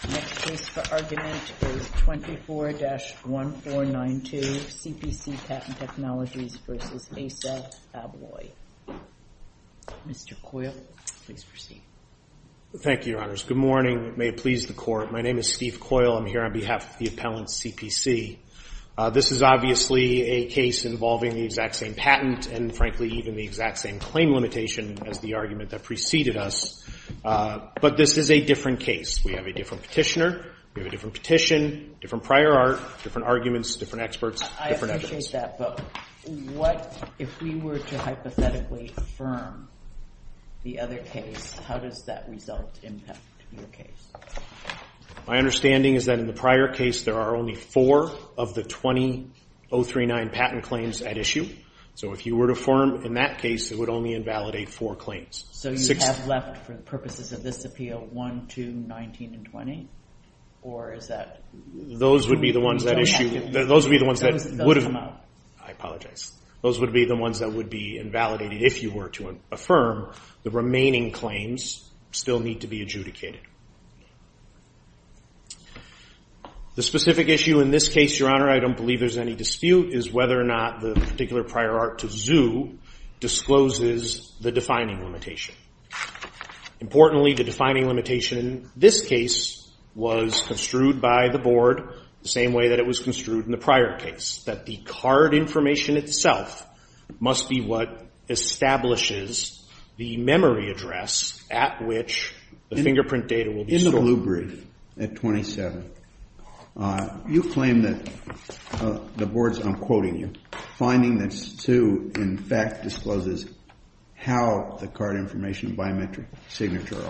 The next case for argument is 24-1492, CPC Patent Technologies v. Assa Abloy. Mr. Coyle, please proceed. Thank you, Your Honors. Good morning. May it please the Court. My name is Steve Coyle. I'm here on behalf of the appellant's CPC. This is obviously a case involving the exact same patent and, frankly, even the exact same claim limitation as the argument that preceded us. But this is a different case. We have a different petitioner. We have a different petition, different prior art, different arguments, different experts, different evidence. I appreciate that, but what if we were to hypothetically affirm the other case, how does that result impact your case? My understanding is that in the prior case, there are only four of the 20-039 patent claims at issue. So if you were to affirm in that case, it would only invalidate four claims. So you have left, for the purposes of this appeal, one, two, 19, and 20? Or is that? Those would be the ones that issue. Those would be the ones that would have. Those come out. I apologize. Those would be the ones that would be invalidated if you were to affirm. The remaining claims still need to be adjudicated. The specific issue in this case, Your Honor, I don't believe there's any dispute, is whether or not the particular prior art to ZHU discloses the defining limitation. Importantly, the defining limitation in this case was construed by the Board the same way that it was construed in the prior case, that the card information itself must be what establishes the memory address at which the fingerprint data will be stored. In the blue brief at 27, you claim that the Board's, I'm quoting you, finding that ZHU in fact discloses how the card information biometric signature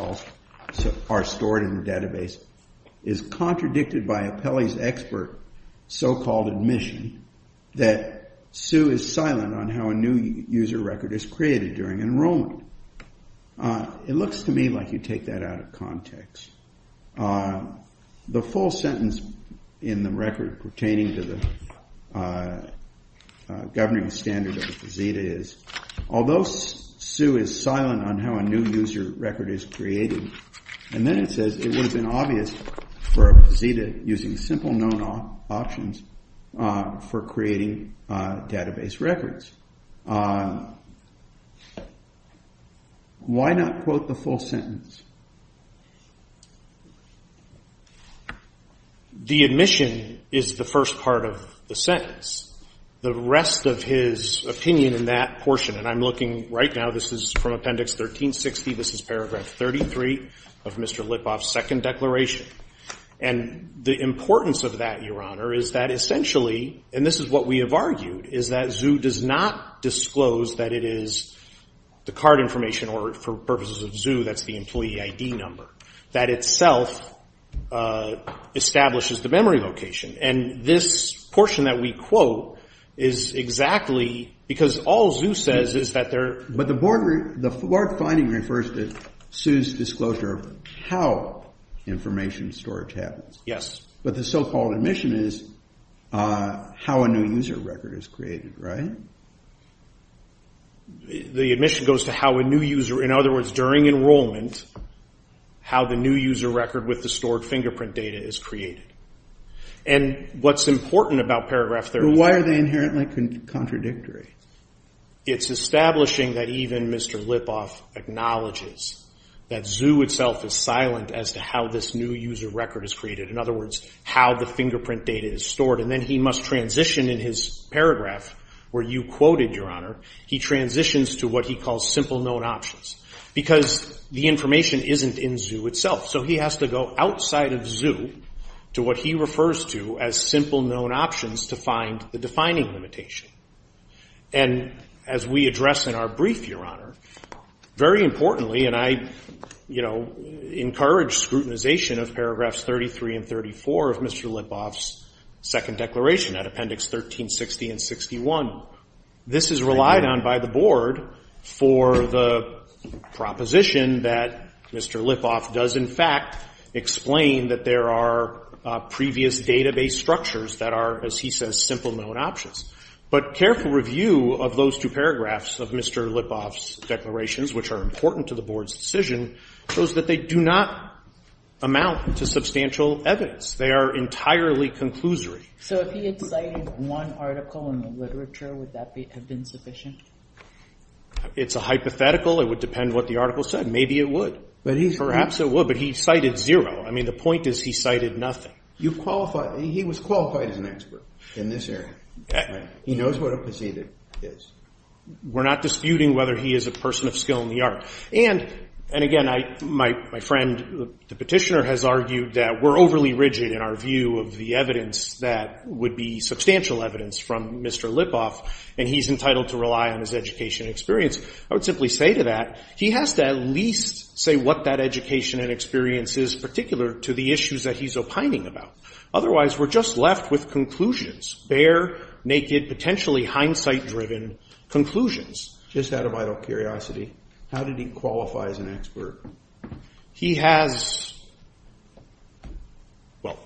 are stored in the database, is contradicted by Apelli's expert so-called admission that Sue is silent on how a new user record is created during enrollment. It looks to me like you take that out of context. The full sentence in the record pertaining to the governing standard of ZHU is, although Sue is silent on how a new user record is created, and then it says it would have been obvious for a ZHU using simple known options for creating database records. Why not quote the full sentence? The admission is the first part of the sentence. The rest of his opinion in that portion, and I'm looking right now, this is from Appendix 1360. This is paragraph 33 of Mr. Lipoff's second declaration. And the importance of that, Your Honor, is that essentially, and this is what we have argued, is that ZHU does not disclose that it is the card information or for purposes of ZHU, that's the employee ID number. That itself establishes the memory location. And this portion that we quote is exactly, because all ZHU says is that they're- But the board finding refers to Sue's disclosure of how information storage happens. Yes. But the so-called admission is how a new user record is created, right? The admission goes to how a new user, in other words, during enrollment, how the new user record with the stored fingerprint data is created. And what's important about paragraph 33- But why are they inherently contradictory? It's establishing that even Mr. Lipoff acknowledges that ZHU itself is silent as to how this new user record is created. In other words, how the fingerprint data is stored. And then he must transition in his paragraph where you quoted, Your Honor, he transitions to what he calls simple known options. Because the information isn't in ZHU itself. So he has to go outside of ZHU to what he refers to as simple known options to find the defining limitation. And as we address in our brief, Your Honor, very importantly, and I, you know, encourage scrutinization of paragraphs 33 and 34 of Mr. Lipoff's second declaration at appendix 1360 and 61. This is relied on by the Board for the proposition that Mr. Lipoff does, in fact, explain that there are previous database structures that are, as he says, simple known options. But careful review of those two paragraphs of Mr. Lipoff's declarations, which are important to the Board's decision, shows that they do not amount to substantial evidence. They are entirely conclusory. So if he had cited one article in the literature, would that have been sufficient? It's a hypothetical. It would depend what the article said. Maybe it would. Perhaps it would. But he cited zero. I mean, the point is he cited nothing. You qualify. He was qualified as an expert in this area. He knows what a proceeding is. We're not disputing whether he is a person of skill in the art. And, again, my friend, the Petitioner, has argued that we're overly rigid in our view of the evidence that would be substantial evidence from Mr. Lipoff, and he's entitled to rely on his education and experience. I would simply say to that, he has to at least say what that education and experience is particular to the issues that he's opining about. Otherwise, we're just left with conclusions, bare, naked, potentially hindsight-driven conclusions. Just out of idle curiosity, how did he qualify as an expert? He has ‑‑ well,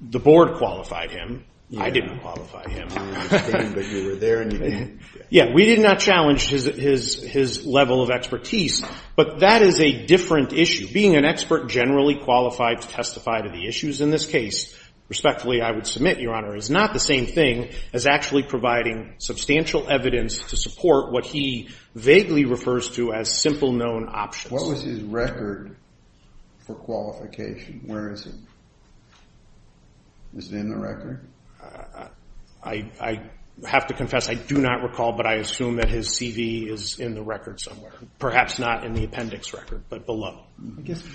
the Board qualified him. I didn't qualify him. I understand, but you were there and you didn't. Yeah, we did not challenge his level of expertise. But that is a different issue. Being an expert generally qualified to testify to the issues in this case, respectfully, I would submit, Your Honor, is not the same thing as actually providing substantial evidence to support what he vaguely refers to as simple known options. What was his record for qualification? Where is it? Is it in the record? I have to confess, I do not recall, but I assume that his CV is in the record somewhere. Perhaps not in the appendix record, but below.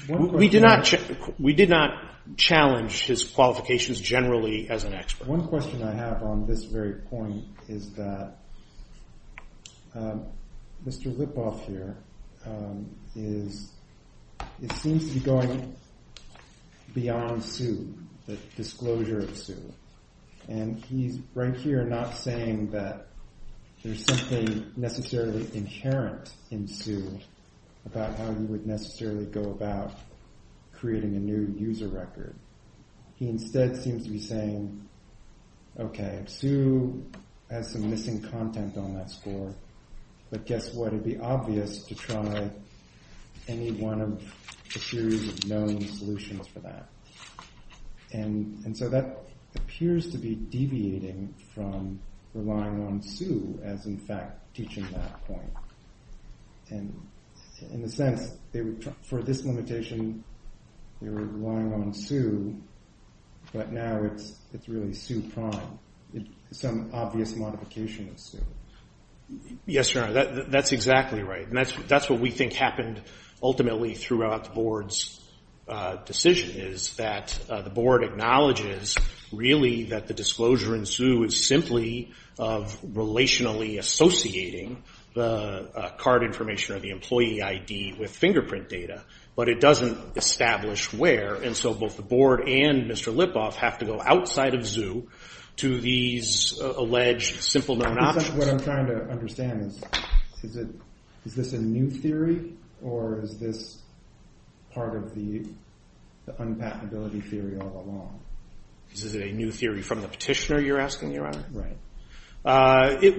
We did not challenge his qualifications generally as an expert. But one question I have on this very point is that Mr. Lipov here is ‑‑ it seems to be going beyond Sue, the disclosure of Sue. And he's right here not saying that there's something necessarily inherent in Sue about how he would necessarily go about creating a new user record. He instead seems to be saying, okay, Sue has some missing content on that score, but guess what? It would be obvious to try any one of the series of known solutions for that. And so that appears to be deviating from relying on Sue as, in fact, teaching that point. And in a sense, for this limitation, they were relying on Sue, but now it's really Sue prime, some obvious modification of Sue. Yes, Your Honor, that's exactly right. And that's what we think happened ultimately throughout the Board's decision is that the Board acknowledges really that the disclosure in Sue is simply of relationally associating the card information or the employee ID with fingerprint data. But it doesn't establish where. And so both the Board and Mr. Lipov have to go outside of Sue to these alleged simple known options. What I'm trying to understand is, is this a new theory, or is this part of the unpatentability theory all along? Is it a new theory from the petitioner, you're asking, Your Honor? Right.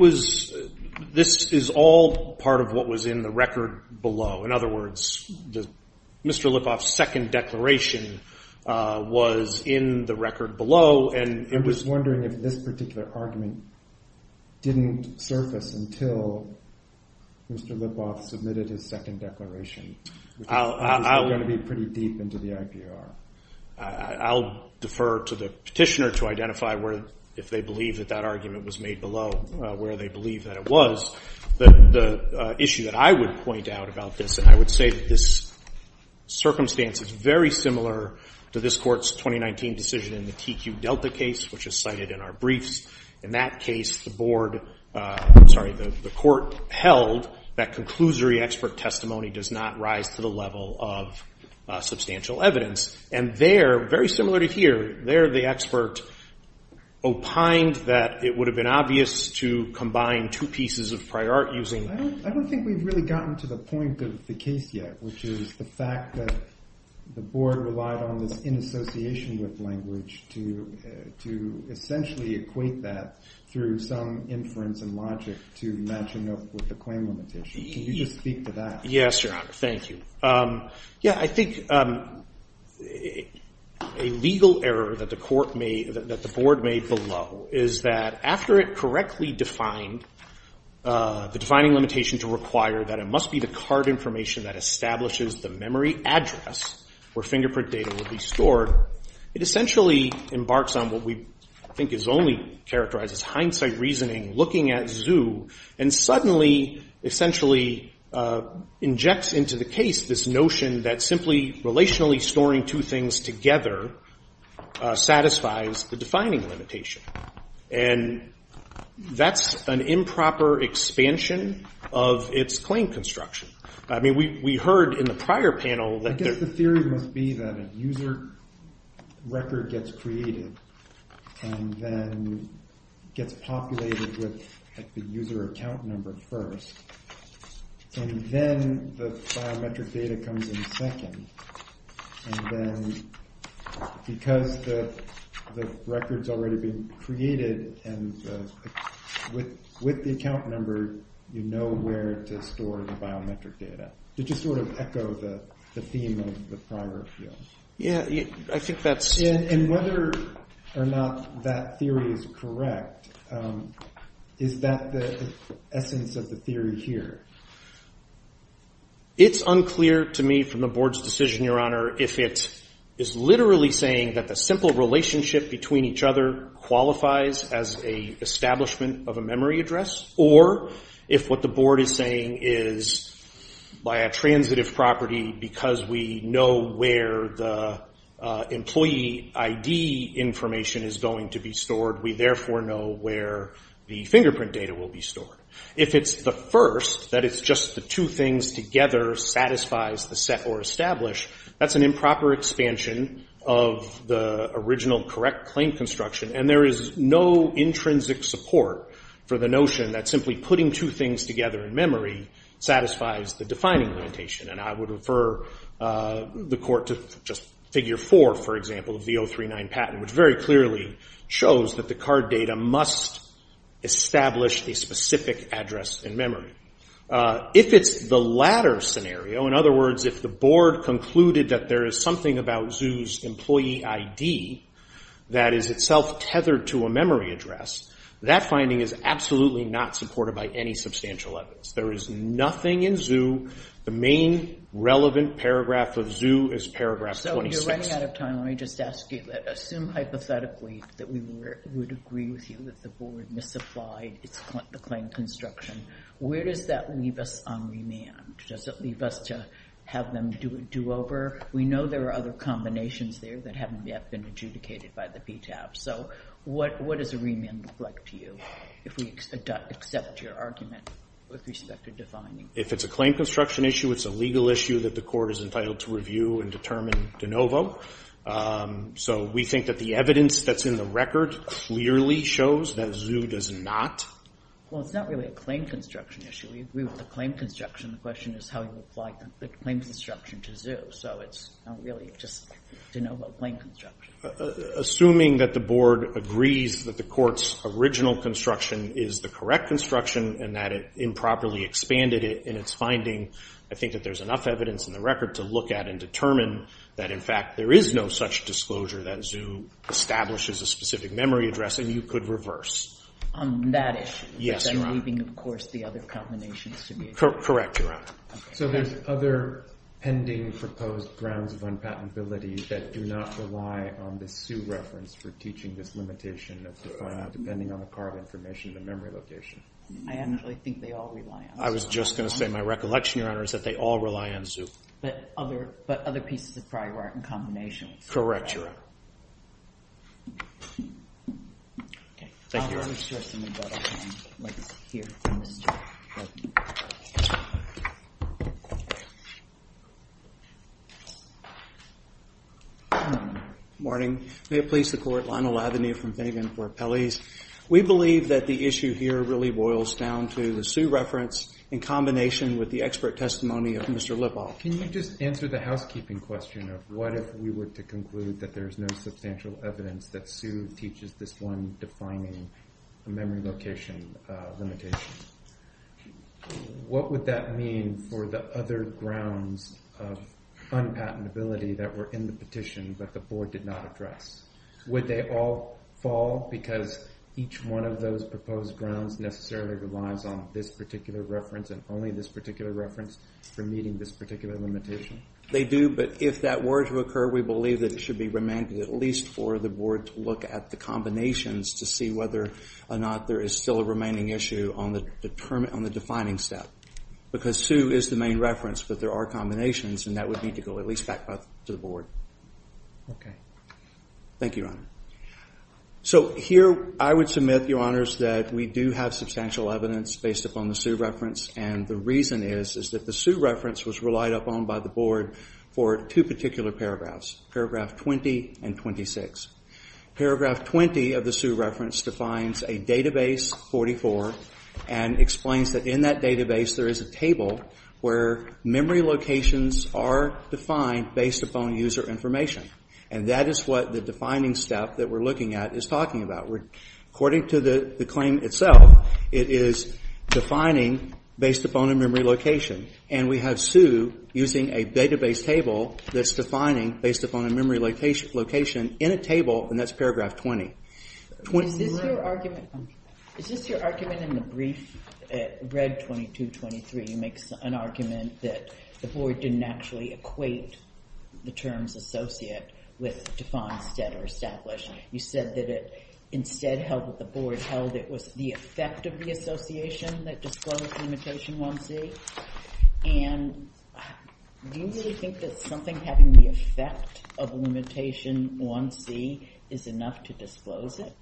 This is all part of what was in the record below. In other words, Mr. Lipov's second declaration was in the record below. I'm just wondering if this particular argument didn't surface until Mr. Lipov submitted his second declaration, which is going to be pretty deep into the IPR. I'll defer to the petitioner to identify where, if they believe that that argument was made below where they believe that it was. The issue that I would point out about this, and I would say that this circumstance is very similar to this Court's 2019 decision in the TQ Delta case, which is cited in our briefs. In that case, the Board — I'm sorry, the Court held that conclusory expert testimony does not rise to the level of substantial evidence. And there, very similar to here, there the expert opined that it would have been obvious to combine two pieces of prior art using — I don't think we've really gotten to the point of the case yet, which is the fact that the Board relied on this inassociation with language to essentially equate that through some inference and logic to matching up with the claim on the petition. Can you just speak to that? Yes, Your Honor. Thank you. Yeah, I think a legal error that the Court made, that the Board made below, is that after it correctly defined the defining limitation to require that it must be the card information that establishes the memory address where fingerprint data will be stored, it essentially embarks on what we think is only characterized as hindsight reasoning, looking at Zhu, and suddenly essentially injects into the case this notion that simply relationally storing two things together satisfies the defining limitation. And that's an improper expansion of its claim construction. I mean, we heard in the prior panel that there — record gets created and then gets populated with the user account number first, and then the biometric data comes in second, and then because the record's already been created and with the account number, you know where to store the biometric data. Did you sort of echo the theme of the prior field? Yeah, I think that's — Yeah, and whether or not that theory is correct, is that the essence of the theory here? It's unclear to me from the Board's decision, Your Honor, if it is literally saying that the simple relationship between each other qualifies as an establishment of a memory address, or if what the Board is saying is by a transitive property, because we know where the employee ID information is going to be stored, we therefore know where the fingerprint data will be stored. If it's the first, that it's just the two things together satisfies the set or establish, that's an improper expansion of the original correct claim construction. And there is no intrinsic support for the notion that simply putting two things together in memory satisfies the defining limitation. And I would refer the Court to just Figure 4, for example, of the 039 patent, which very clearly shows that the card data must establish a specific address in memory. If it's the latter scenario, in other words, if the Board concluded that there is something about Zhu's employee ID that is itself tethered to a memory address, that finding is absolutely not supported by any substantial evidence. There is nothing in Zhu. The main relevant paragraph of Zhu is paragraph 26. When you're running out of time, let me just ask you, assume hypothetically that we would agree with you that the Board misapplied the claim construction. Where does that leave us on remand? Does it leave us to have them do over? We know there are other combinations there that haven't yet been adjudicated by the PTAB. So what does a remand look like to you, if we accept your argument with respect to defining? If it's a claim construction issue, it's a legal issue that the Court is entitled to review and determine de novo. So we think that the evidence that's in the record clearly shows that Zhu does not. Well, it's not really a claim construction issue. We agree with the claim construction. The question is how you apply the claim construction to Zhu. So it's not really just de novo claim construction. Assuming that the Board agrees that the Court's original construction is the correct construction and that it improperly expanded it in its finding, I think that there's enough evidence in the record to look at and determine that, in fact, there is no such disclosure that Zhu establishes a specific memory address, and you could reverse. On that issue? Yes, Your Honor. Then leaving, of course, the other combinations to me. Correct, Your Honor. So there's other pending proposed grounds of unpatentability that do not rely on the Zhu reference for teaching this limitation of defining, depending on the carved information, the memory location. I don't really think they all rely on Zhu. I was just going to say my recollection, Your Honor, is that they all rely on Zhu. But other pieces of prior art and combinations. Correct, Your Honor. Thank you, Your Honor. Let me show you something that I found. Right here. Good morning. May it please the Court. Lionel Lavigny from Finnegan for Pelley's. We believe that the issue here really boils down to the Zhu reference in combination with the expert testimony of Mr. Lipov. Can you just answer the housekeeping question of what if we were to conclude that there's no substantial evidence that Zhu teaches this one defining memory location limitation? What would that mean for the other grounds of unpatentability that were in the petition but the board did not address? Would they all fall because each one of those proposed grounds necessarily relies on this particular reference and only this particular reference for meeting this particular limitation? They do, but if that were to occur, we believe that it should be remanded at least for the board to look at the combinations to see whether or not there is still a remaining issue on the defining step. Because Zhu is the main reference, but there are combinations, and that would need to go at least back to the board. Okay. Thank you, Your Honor. So here I would submit, Your Honors, that we do have substantial evidence based upon the Zhu reference, and the reason is that the Zhu reference was relied upon by the board for two particular paragraphs, paragraph 20 and 26. Paragraph 20 of the Zhu reference defines a database 44 and explains that in that database there is a table where memory locations are defined based upon user information. And that is what the defining step that we're looking at is talking about. According to the claim itself, it is defining based upon a memory location. And we have Zhu using a database table that's defining based upon a memory location in a table, and that's paragraph 20. Is this your argument in the brief read 2223? You make an argument that the board didn't actually equate the terms associated with define, set, or establish. You said that it instead held that the board held it was the effect of the association that disclosed limitation 1C. And do you really think that something having the effect of limitation 1C is enough to disclose it?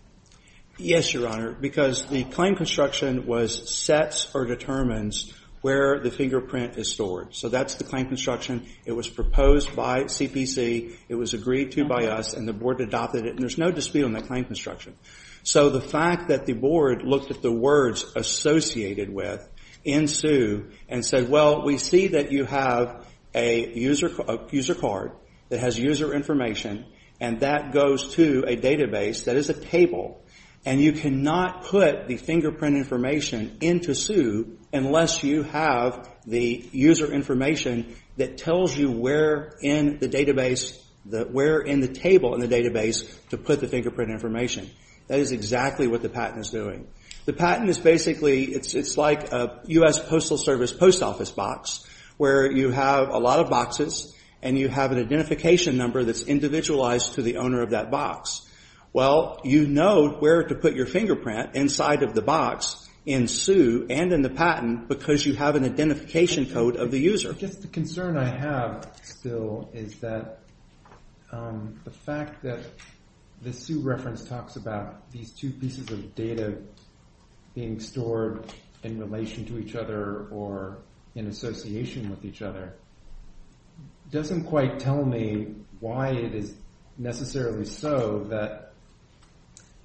Yes, Your Honor, because the claim construction was sets or determines where the fingerprint is stored. So that's the claim construction. It was proposed by CPC. It was agreed to by us, and the board adopted it. And there's no dispute on the claim construction. So the fact that the board looked at the words associated with in Zhu and said, well, we see that you have a user card that has user information, and that goes to a database that is a table. And you cannot put the fingerprint information into Zhu unless you have the user information that tells you where in the database, where in the table in the database to put the fingerprint information. That is exactly what the patent is doing. The patent is basically, it's like a U.S. Postal Service post office box where you have a lot of boxes, and you have an identification number that's individualized to the owner of that box. Well, you know where to put your fingerprint inside of the box in Zhu and in the patent because you have an identification code of the user. I guess the concern I have still is that the fact that the Zhu reference talks about these two pieces of data being stored in relation to each other or in association with each other doesn't quite tell me why it is necessarily so that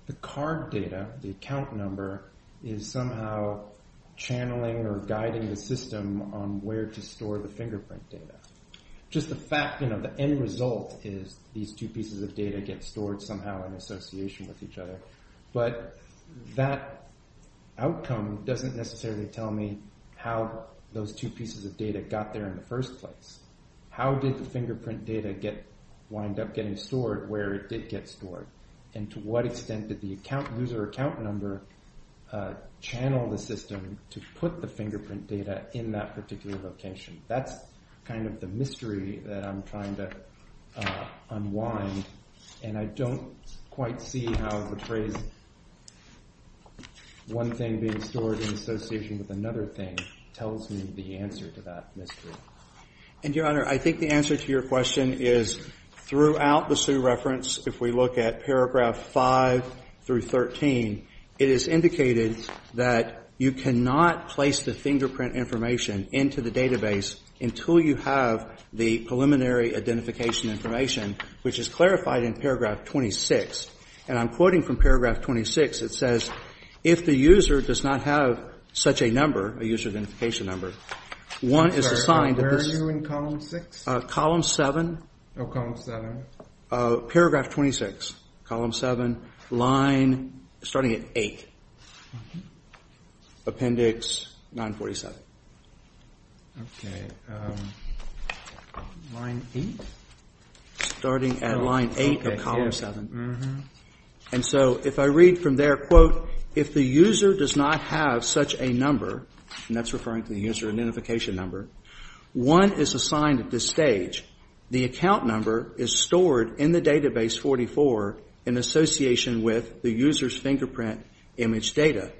the card data, the account number, is somehow channeling or guiding the system on where to store the fingerprint data. Just the fact, you know, the end result is these two pieces of data get stored somehow in association with each other. But that outcome doesn't necessarily tell me how those two pieces of data got there in the first place. How did the fingerprint data wind up getting stored where it did get stored? And to what extent did the user account number channel the system to put the fingerprint data in that particular location? That's kind of the mystery that I'm trying to unwind. And I don't quite see how the phrase one thing being stored in association with another thing tells me the answer to that mystery. And, Your Honor, I think the answer to your question is throughout the Zhu reference, if we look at paragraph 5 through 13, it is indicated that you cannot place the fingerprint information into the database until you have the preliminary identification information, which is clarified in paragraph 26. And I'm quoting from paragraph 26. It says, if the user does not have such a number, a user identification number, one is assigned to this. Where are you in column 6? Column 7. Oh, column 7. Paragraph 26, column 7, line starting at 8. Appendix 947. Line 8? Starting at line 8 of column 7. And so if I read from there, quote, if the user does not have such a number, and that's referring to the user identification number, one is assigned at this stage. The account number is stored in the database 44 in association with the user's fingerprint image data.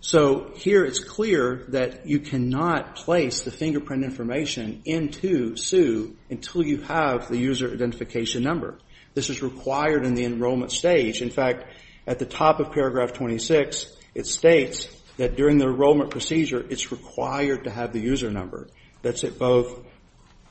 So here it's clear that you cannot place the fingerprint information into Zhu until you have the user identification number. This is required in the enrollment stage. In fact, at the top of paragraph 26, it states that during the enrollment procedure, it's required to have the user number. That's at both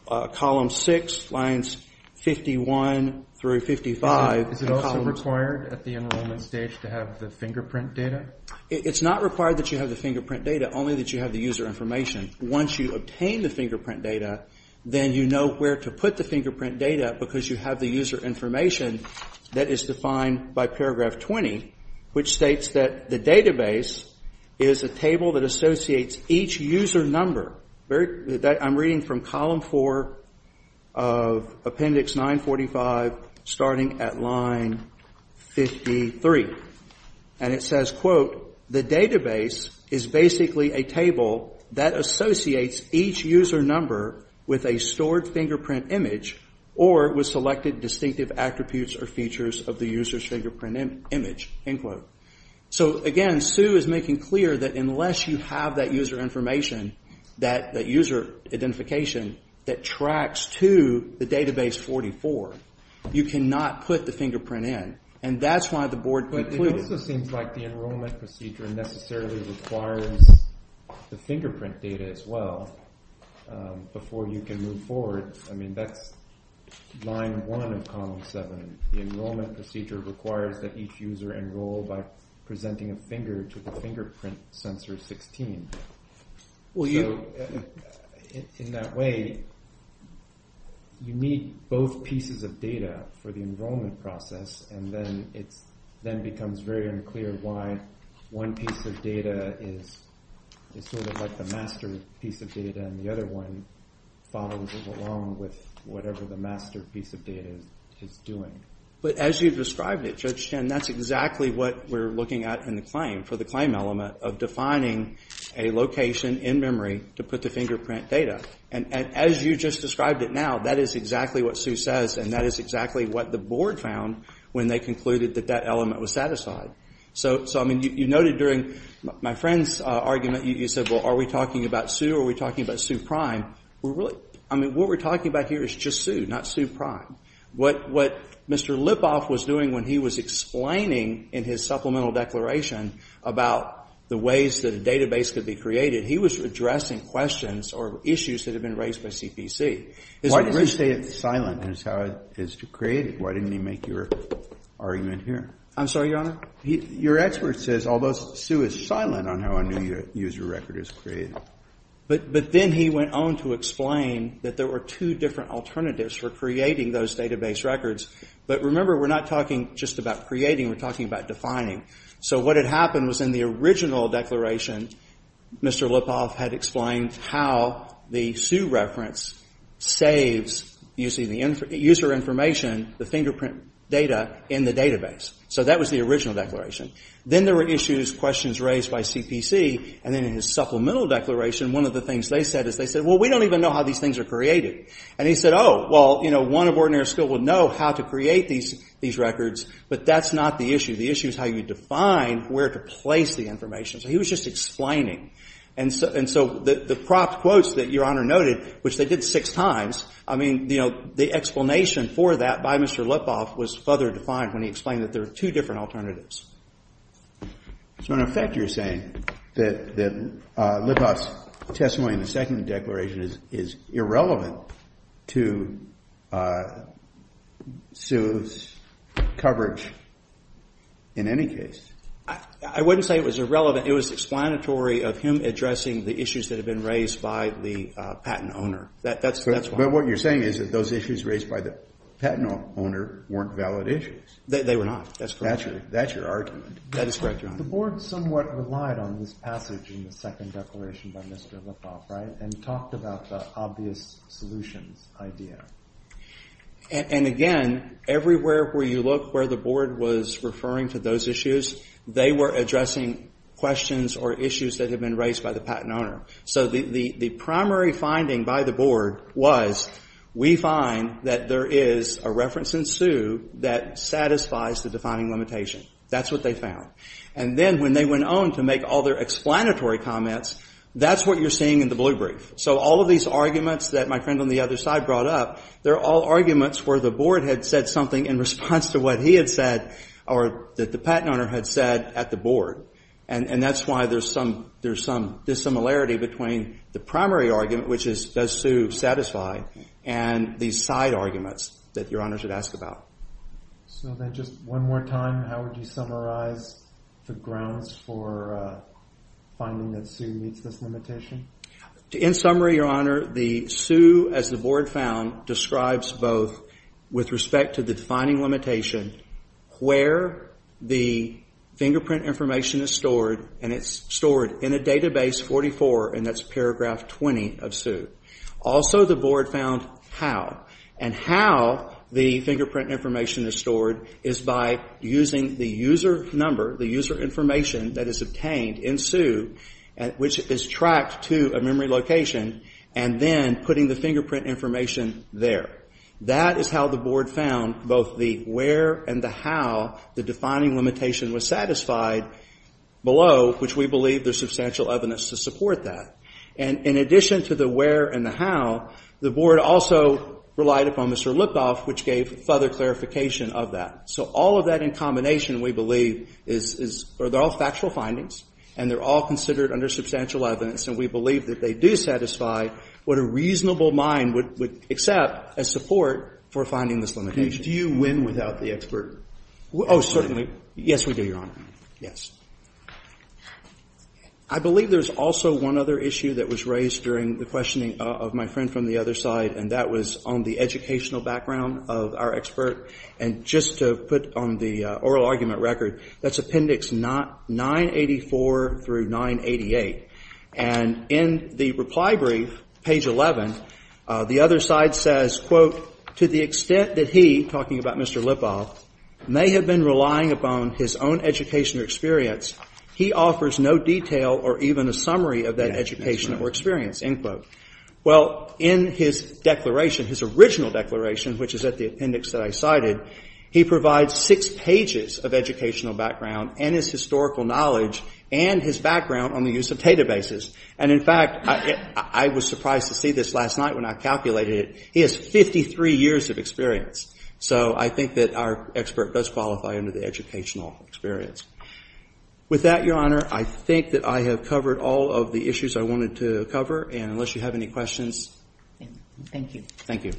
column 6, lines 51 through 55. Is it also required at the enrollment stage to have the fingerprint data? It's not required that you have the fingerprint data, only that you have the user information. Once you obtain the fingerprint data, then you know where to put the fingerprint data, because you have the user information that is defined by paragraph 20, which states that the database is a table that associates each user number. I'm reading from column 4 of appendix 945, starting at line 53. And it says, quote, the database is basically a table that associates each user number with a stored fingerprint image or with selected distinctive attributes or features of the user's fingerprint image, end quote. So again, Zhu is making clear that unless you have that user information, that user identification, that tracks to the database 44, you cannot put the fingerprint in. And that's why the board concluded. But it also seems like the enrollment procedure necessarily requires the fingerprint data as well before you can move forward. I mean, that's line 1 of column 7. The enrollment procedure requires that each user enroll by presenting a finger to the fingerprint sensor 16. So in that way, you need both pieces of data for the enrollment process. And then it then becomes very unclear why one piece of data is sort of like the master piece of data and the other one follows along with whatever the master piece of data is doing. But as you've described it, Judge Chen, that's exactly what we're looking at in the claim, the claim element of defining a location in memory to put the fingerprint data. And as you just described it now, that is exactly what Zhu says and that is exactly what the board found when they concluded that that element was satisfied. So, I mean, you noted during my friend's argument, you said, well, are we talking about Zhu or are we talking about Zhu prime? I mean, what we're talking about here is just Zhu, not Zhu prime. What Mr. Lipoff was doing when he was explaining in his supplemental declaration about the ways that a database could be created, he was addressing questions or issues that had been raised by CPC. Why does he say it's silent is how it is created? Why didn't he make your argument here? I'm sorry, Your Honor? Your expert says, although Zhu is silent on how a new user record is created. But then he went on to explain that there were two different alternatives for creating those database records. But remember, we're not talking just about creating, we're talking about defining. So what had happened was in the original declaration, Mr. Lipoff had explained how the Zhu reference saves user information, the fingerprint data, in the database. So that was the original declaration. Then there were issues, questions raised by CPC, and then in his supplemental declaration, one of the things they said is they said, well, we don't even know how these things are created. And he said, oh, well, you know, one of ordinary skill would know how to create these records, but that's not the issue. The issue is how you define where to place the information. So he was just explaining. And so the propped quotes that Your Honor noted, which they did six times, I mean, you know, the explanation for that by Mr. Lipoff was further defined when he explained that there were two different alternatives. So in effect you're saying that Lipoff's testimony in the second declaration is irrelevant to Zhu's coverage in any case? I wouldn't say it was irrelevant. It was explanatory of him addressing the issues that had been raised by the patent owner. That's why. But what you're saying is that those issues raised by the patent owner weren't valid issues. They were not. That's correct. That's your argument. That is correct, Your Honor. The board somewhat relied on this passage in the second declaration by Mr. Lipoff, right, and talked about the obvious solutions idea. And again, everywhere where you look where the board was referring to those issues, they were addressing questions or issues that had been raised by the patent owner. So the primary finding by the board was we find that there is a reference in Zhu that satisfies the defining limitation. That's what they found. And then when they went on to make all their explanatory comments, that's what you're seeing in the blue brief. So all of these arguments that my friend on the other side brought up, they're all arguments where the board had said something in response to what he had said or that the patent owner had said at the board. And that's why there's some dissimilarity between the primary argument, which is does Zhu satisfy, and these side arguments that Your Honor should ask about. So then just one more time, how would you summarize the grounds for finding that Zhu meets this limitation? In summary, Your Honor, Zhu, as the board found, describes both with respect to the defining limitation where the fingerprint information is stored, and it's stored in a database 44, and that's paragraph 20 of Zhu. Also the board found how. And how the fingerprint information is stored is by using the user number, the user information that is obtained in Zhu, which is tracked to a memory location, and then putting the fingerprint information there. That is how the board found both the where and the how the defining limitation was satisfied below, which we believe there's substantial evidence to support that. And in addition to the where and the how, the board also relied upon Mr. Lukoff, which gave further clarification of that. So all of that in combination, we believe, are all factual findings, and they're all considered under substantial evidence, and we believe that they do satisfy what a reasonable mind would accept as support for finding this limitation. Do you win without the expert? Oh, certainly. Yes, we do, Your Honor. Yes. I believe there's also one other issue that was raised during the questioning of my friend from the other side, and that was on the educational background of our expert. And just to put on the oral argument record, that's Appendix 984 through 988. And in the reply brief, page 11, the other side says, to the extent that he, talking about Mr. Lipov, may have been relying upon his own educational experience, he offers no detail or even a summary of that education or experience, end quote. Well, in his declaration, his original declaration, which is at the appendix that I cited, he provides six pages of educational background and his historical knowledge and his background on the use of databases. And in fact, I was surprised to see this last night when I calculated it. He has 53 years of experience. So I think that our expert does qualify under the educational experience. With that, Your Honor, I think that I have covered all of the issues I wanted to cover, and unless you have any questions. Thank you. Thank you.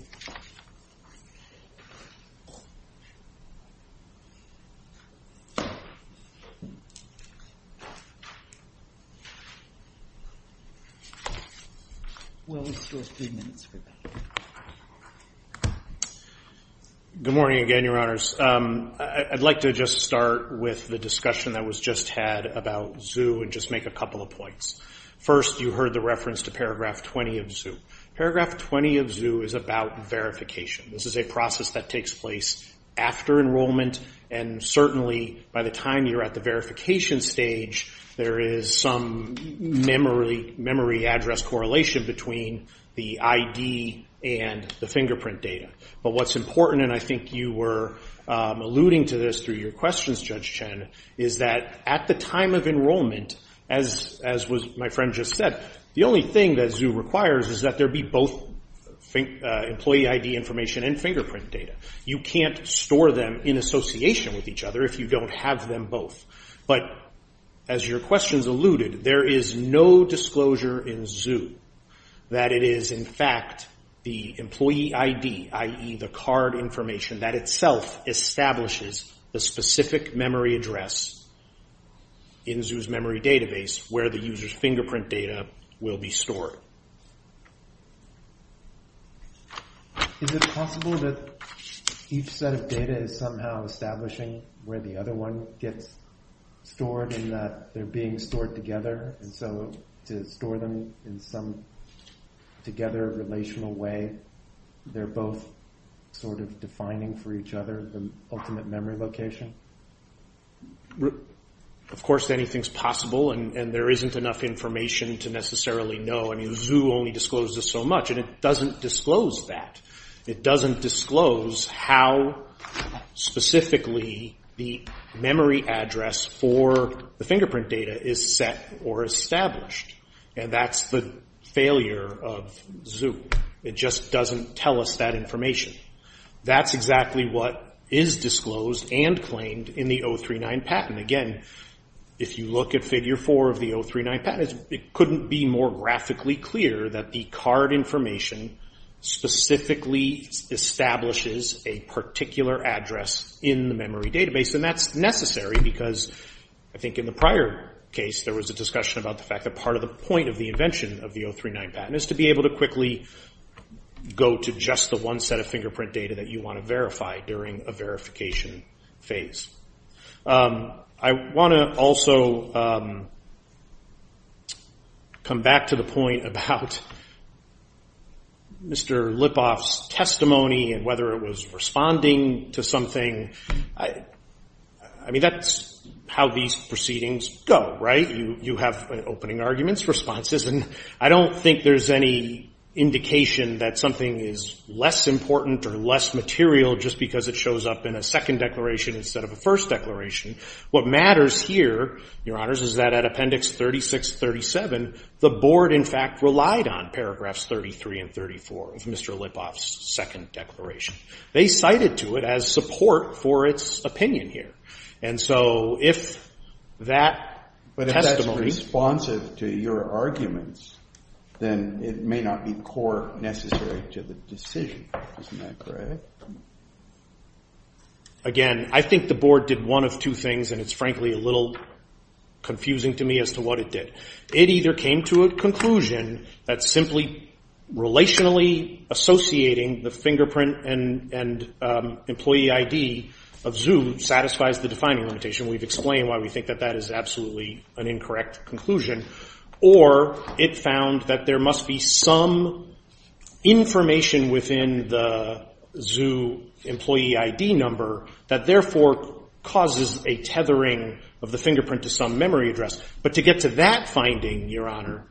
Well, let's do a few minutes for that. Good morning again, Your Honors. I'd like to just start with the discussion that was just had about ZOO and just make a couple of points. First, you heard the reference to Paragraph 20 of ZOO. Paragraph 20 of ZOO is about verification. This is a process that takes place after enrollment, and certainly by the time you're at the verification stage, there is some memory address correlation between the ID and the fingerprint data. But what's important, and I think you were alluding to this through your questions, Judge Chen, is that at the time of enrollment, as my friend just said, the only thing that ZOO requires is that there be both employee ID information and fingerprint data. You can't store them in association with each other if you don't have them both. But as your questions alluded, there is no disclosure in ZOO that it is, in fact, the employee ID, i.e., the card information, that itself establishes the specific memory address in ZOO's memory database where the user's fingerprint data will be stored. Is it possible that each set of data is somehow establishing where the other one gets stored and that they're being stored together? And so to store them in some together relational way, they're both sort of defining for each other the ultimate memory location? Of course anything's possible, and there isn't enough information to necessarily know. I mean, ZOO only discloses so much, and it doesn't disclose that. It doesn't disclose how specifically the memory address for the fingerprint data is set or established, and that's the failure of ZOO. It just doesn't tell us that information. That's exactly what is disclosed and claimed in the 039 patent. Again, if you look at Figure 4 of the 039 patent, it couldn't be more graphically clear that the card information specifically establishes a particular address in the memory database, and that's necessary because I think in the prior case, there was a discussion about the fact that part of the point of the invention of the 039 patent is to be able to quickly go to just the one set of fingerprint data that you want to verify during a verification phase. I want to also come back to the point about Mr. Lipoff's testimony and whether it was responding to something. I mean, that's how these proceedings go, right? You have opening arguments, responses, and I don't think there's any indication that something is less important or less material just because it shows up in a second declaration instead of a first declaration. What matters here, Your Honors, is that at Appendix 36-37, the Board, in fact, relied on paragraphs 33 and 34 of Mr. Lipoff's second declaration. They cited to it as support for its opinion here. And so if that testimony… But if that's responsive to your arguments, then it may not be core necessary to the decision. Isn't that correct? Again, I think the Board did one of two things, and it's frankly a little confusing to me as to what it did. It either came to a conclusion that simply relationally associating the fingerprint and employee ID of Zoo satisfies the defining limitation. We've explained why we think that that is absolutely an incorrect conclusion. Or it found that there must be some information within the Zoo employee ID number that therefore causes a tethering of the fingerprint to some memory address. But to get to that finding, Your Honor,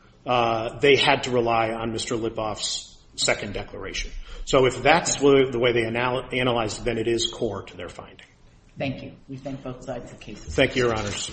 they had to rely on Mr. Lipoff's second declaration. So if that's the way they analyzed it, then it is core to their finding. Thank you. We thank both sides of the case. Thank you, Your Honors.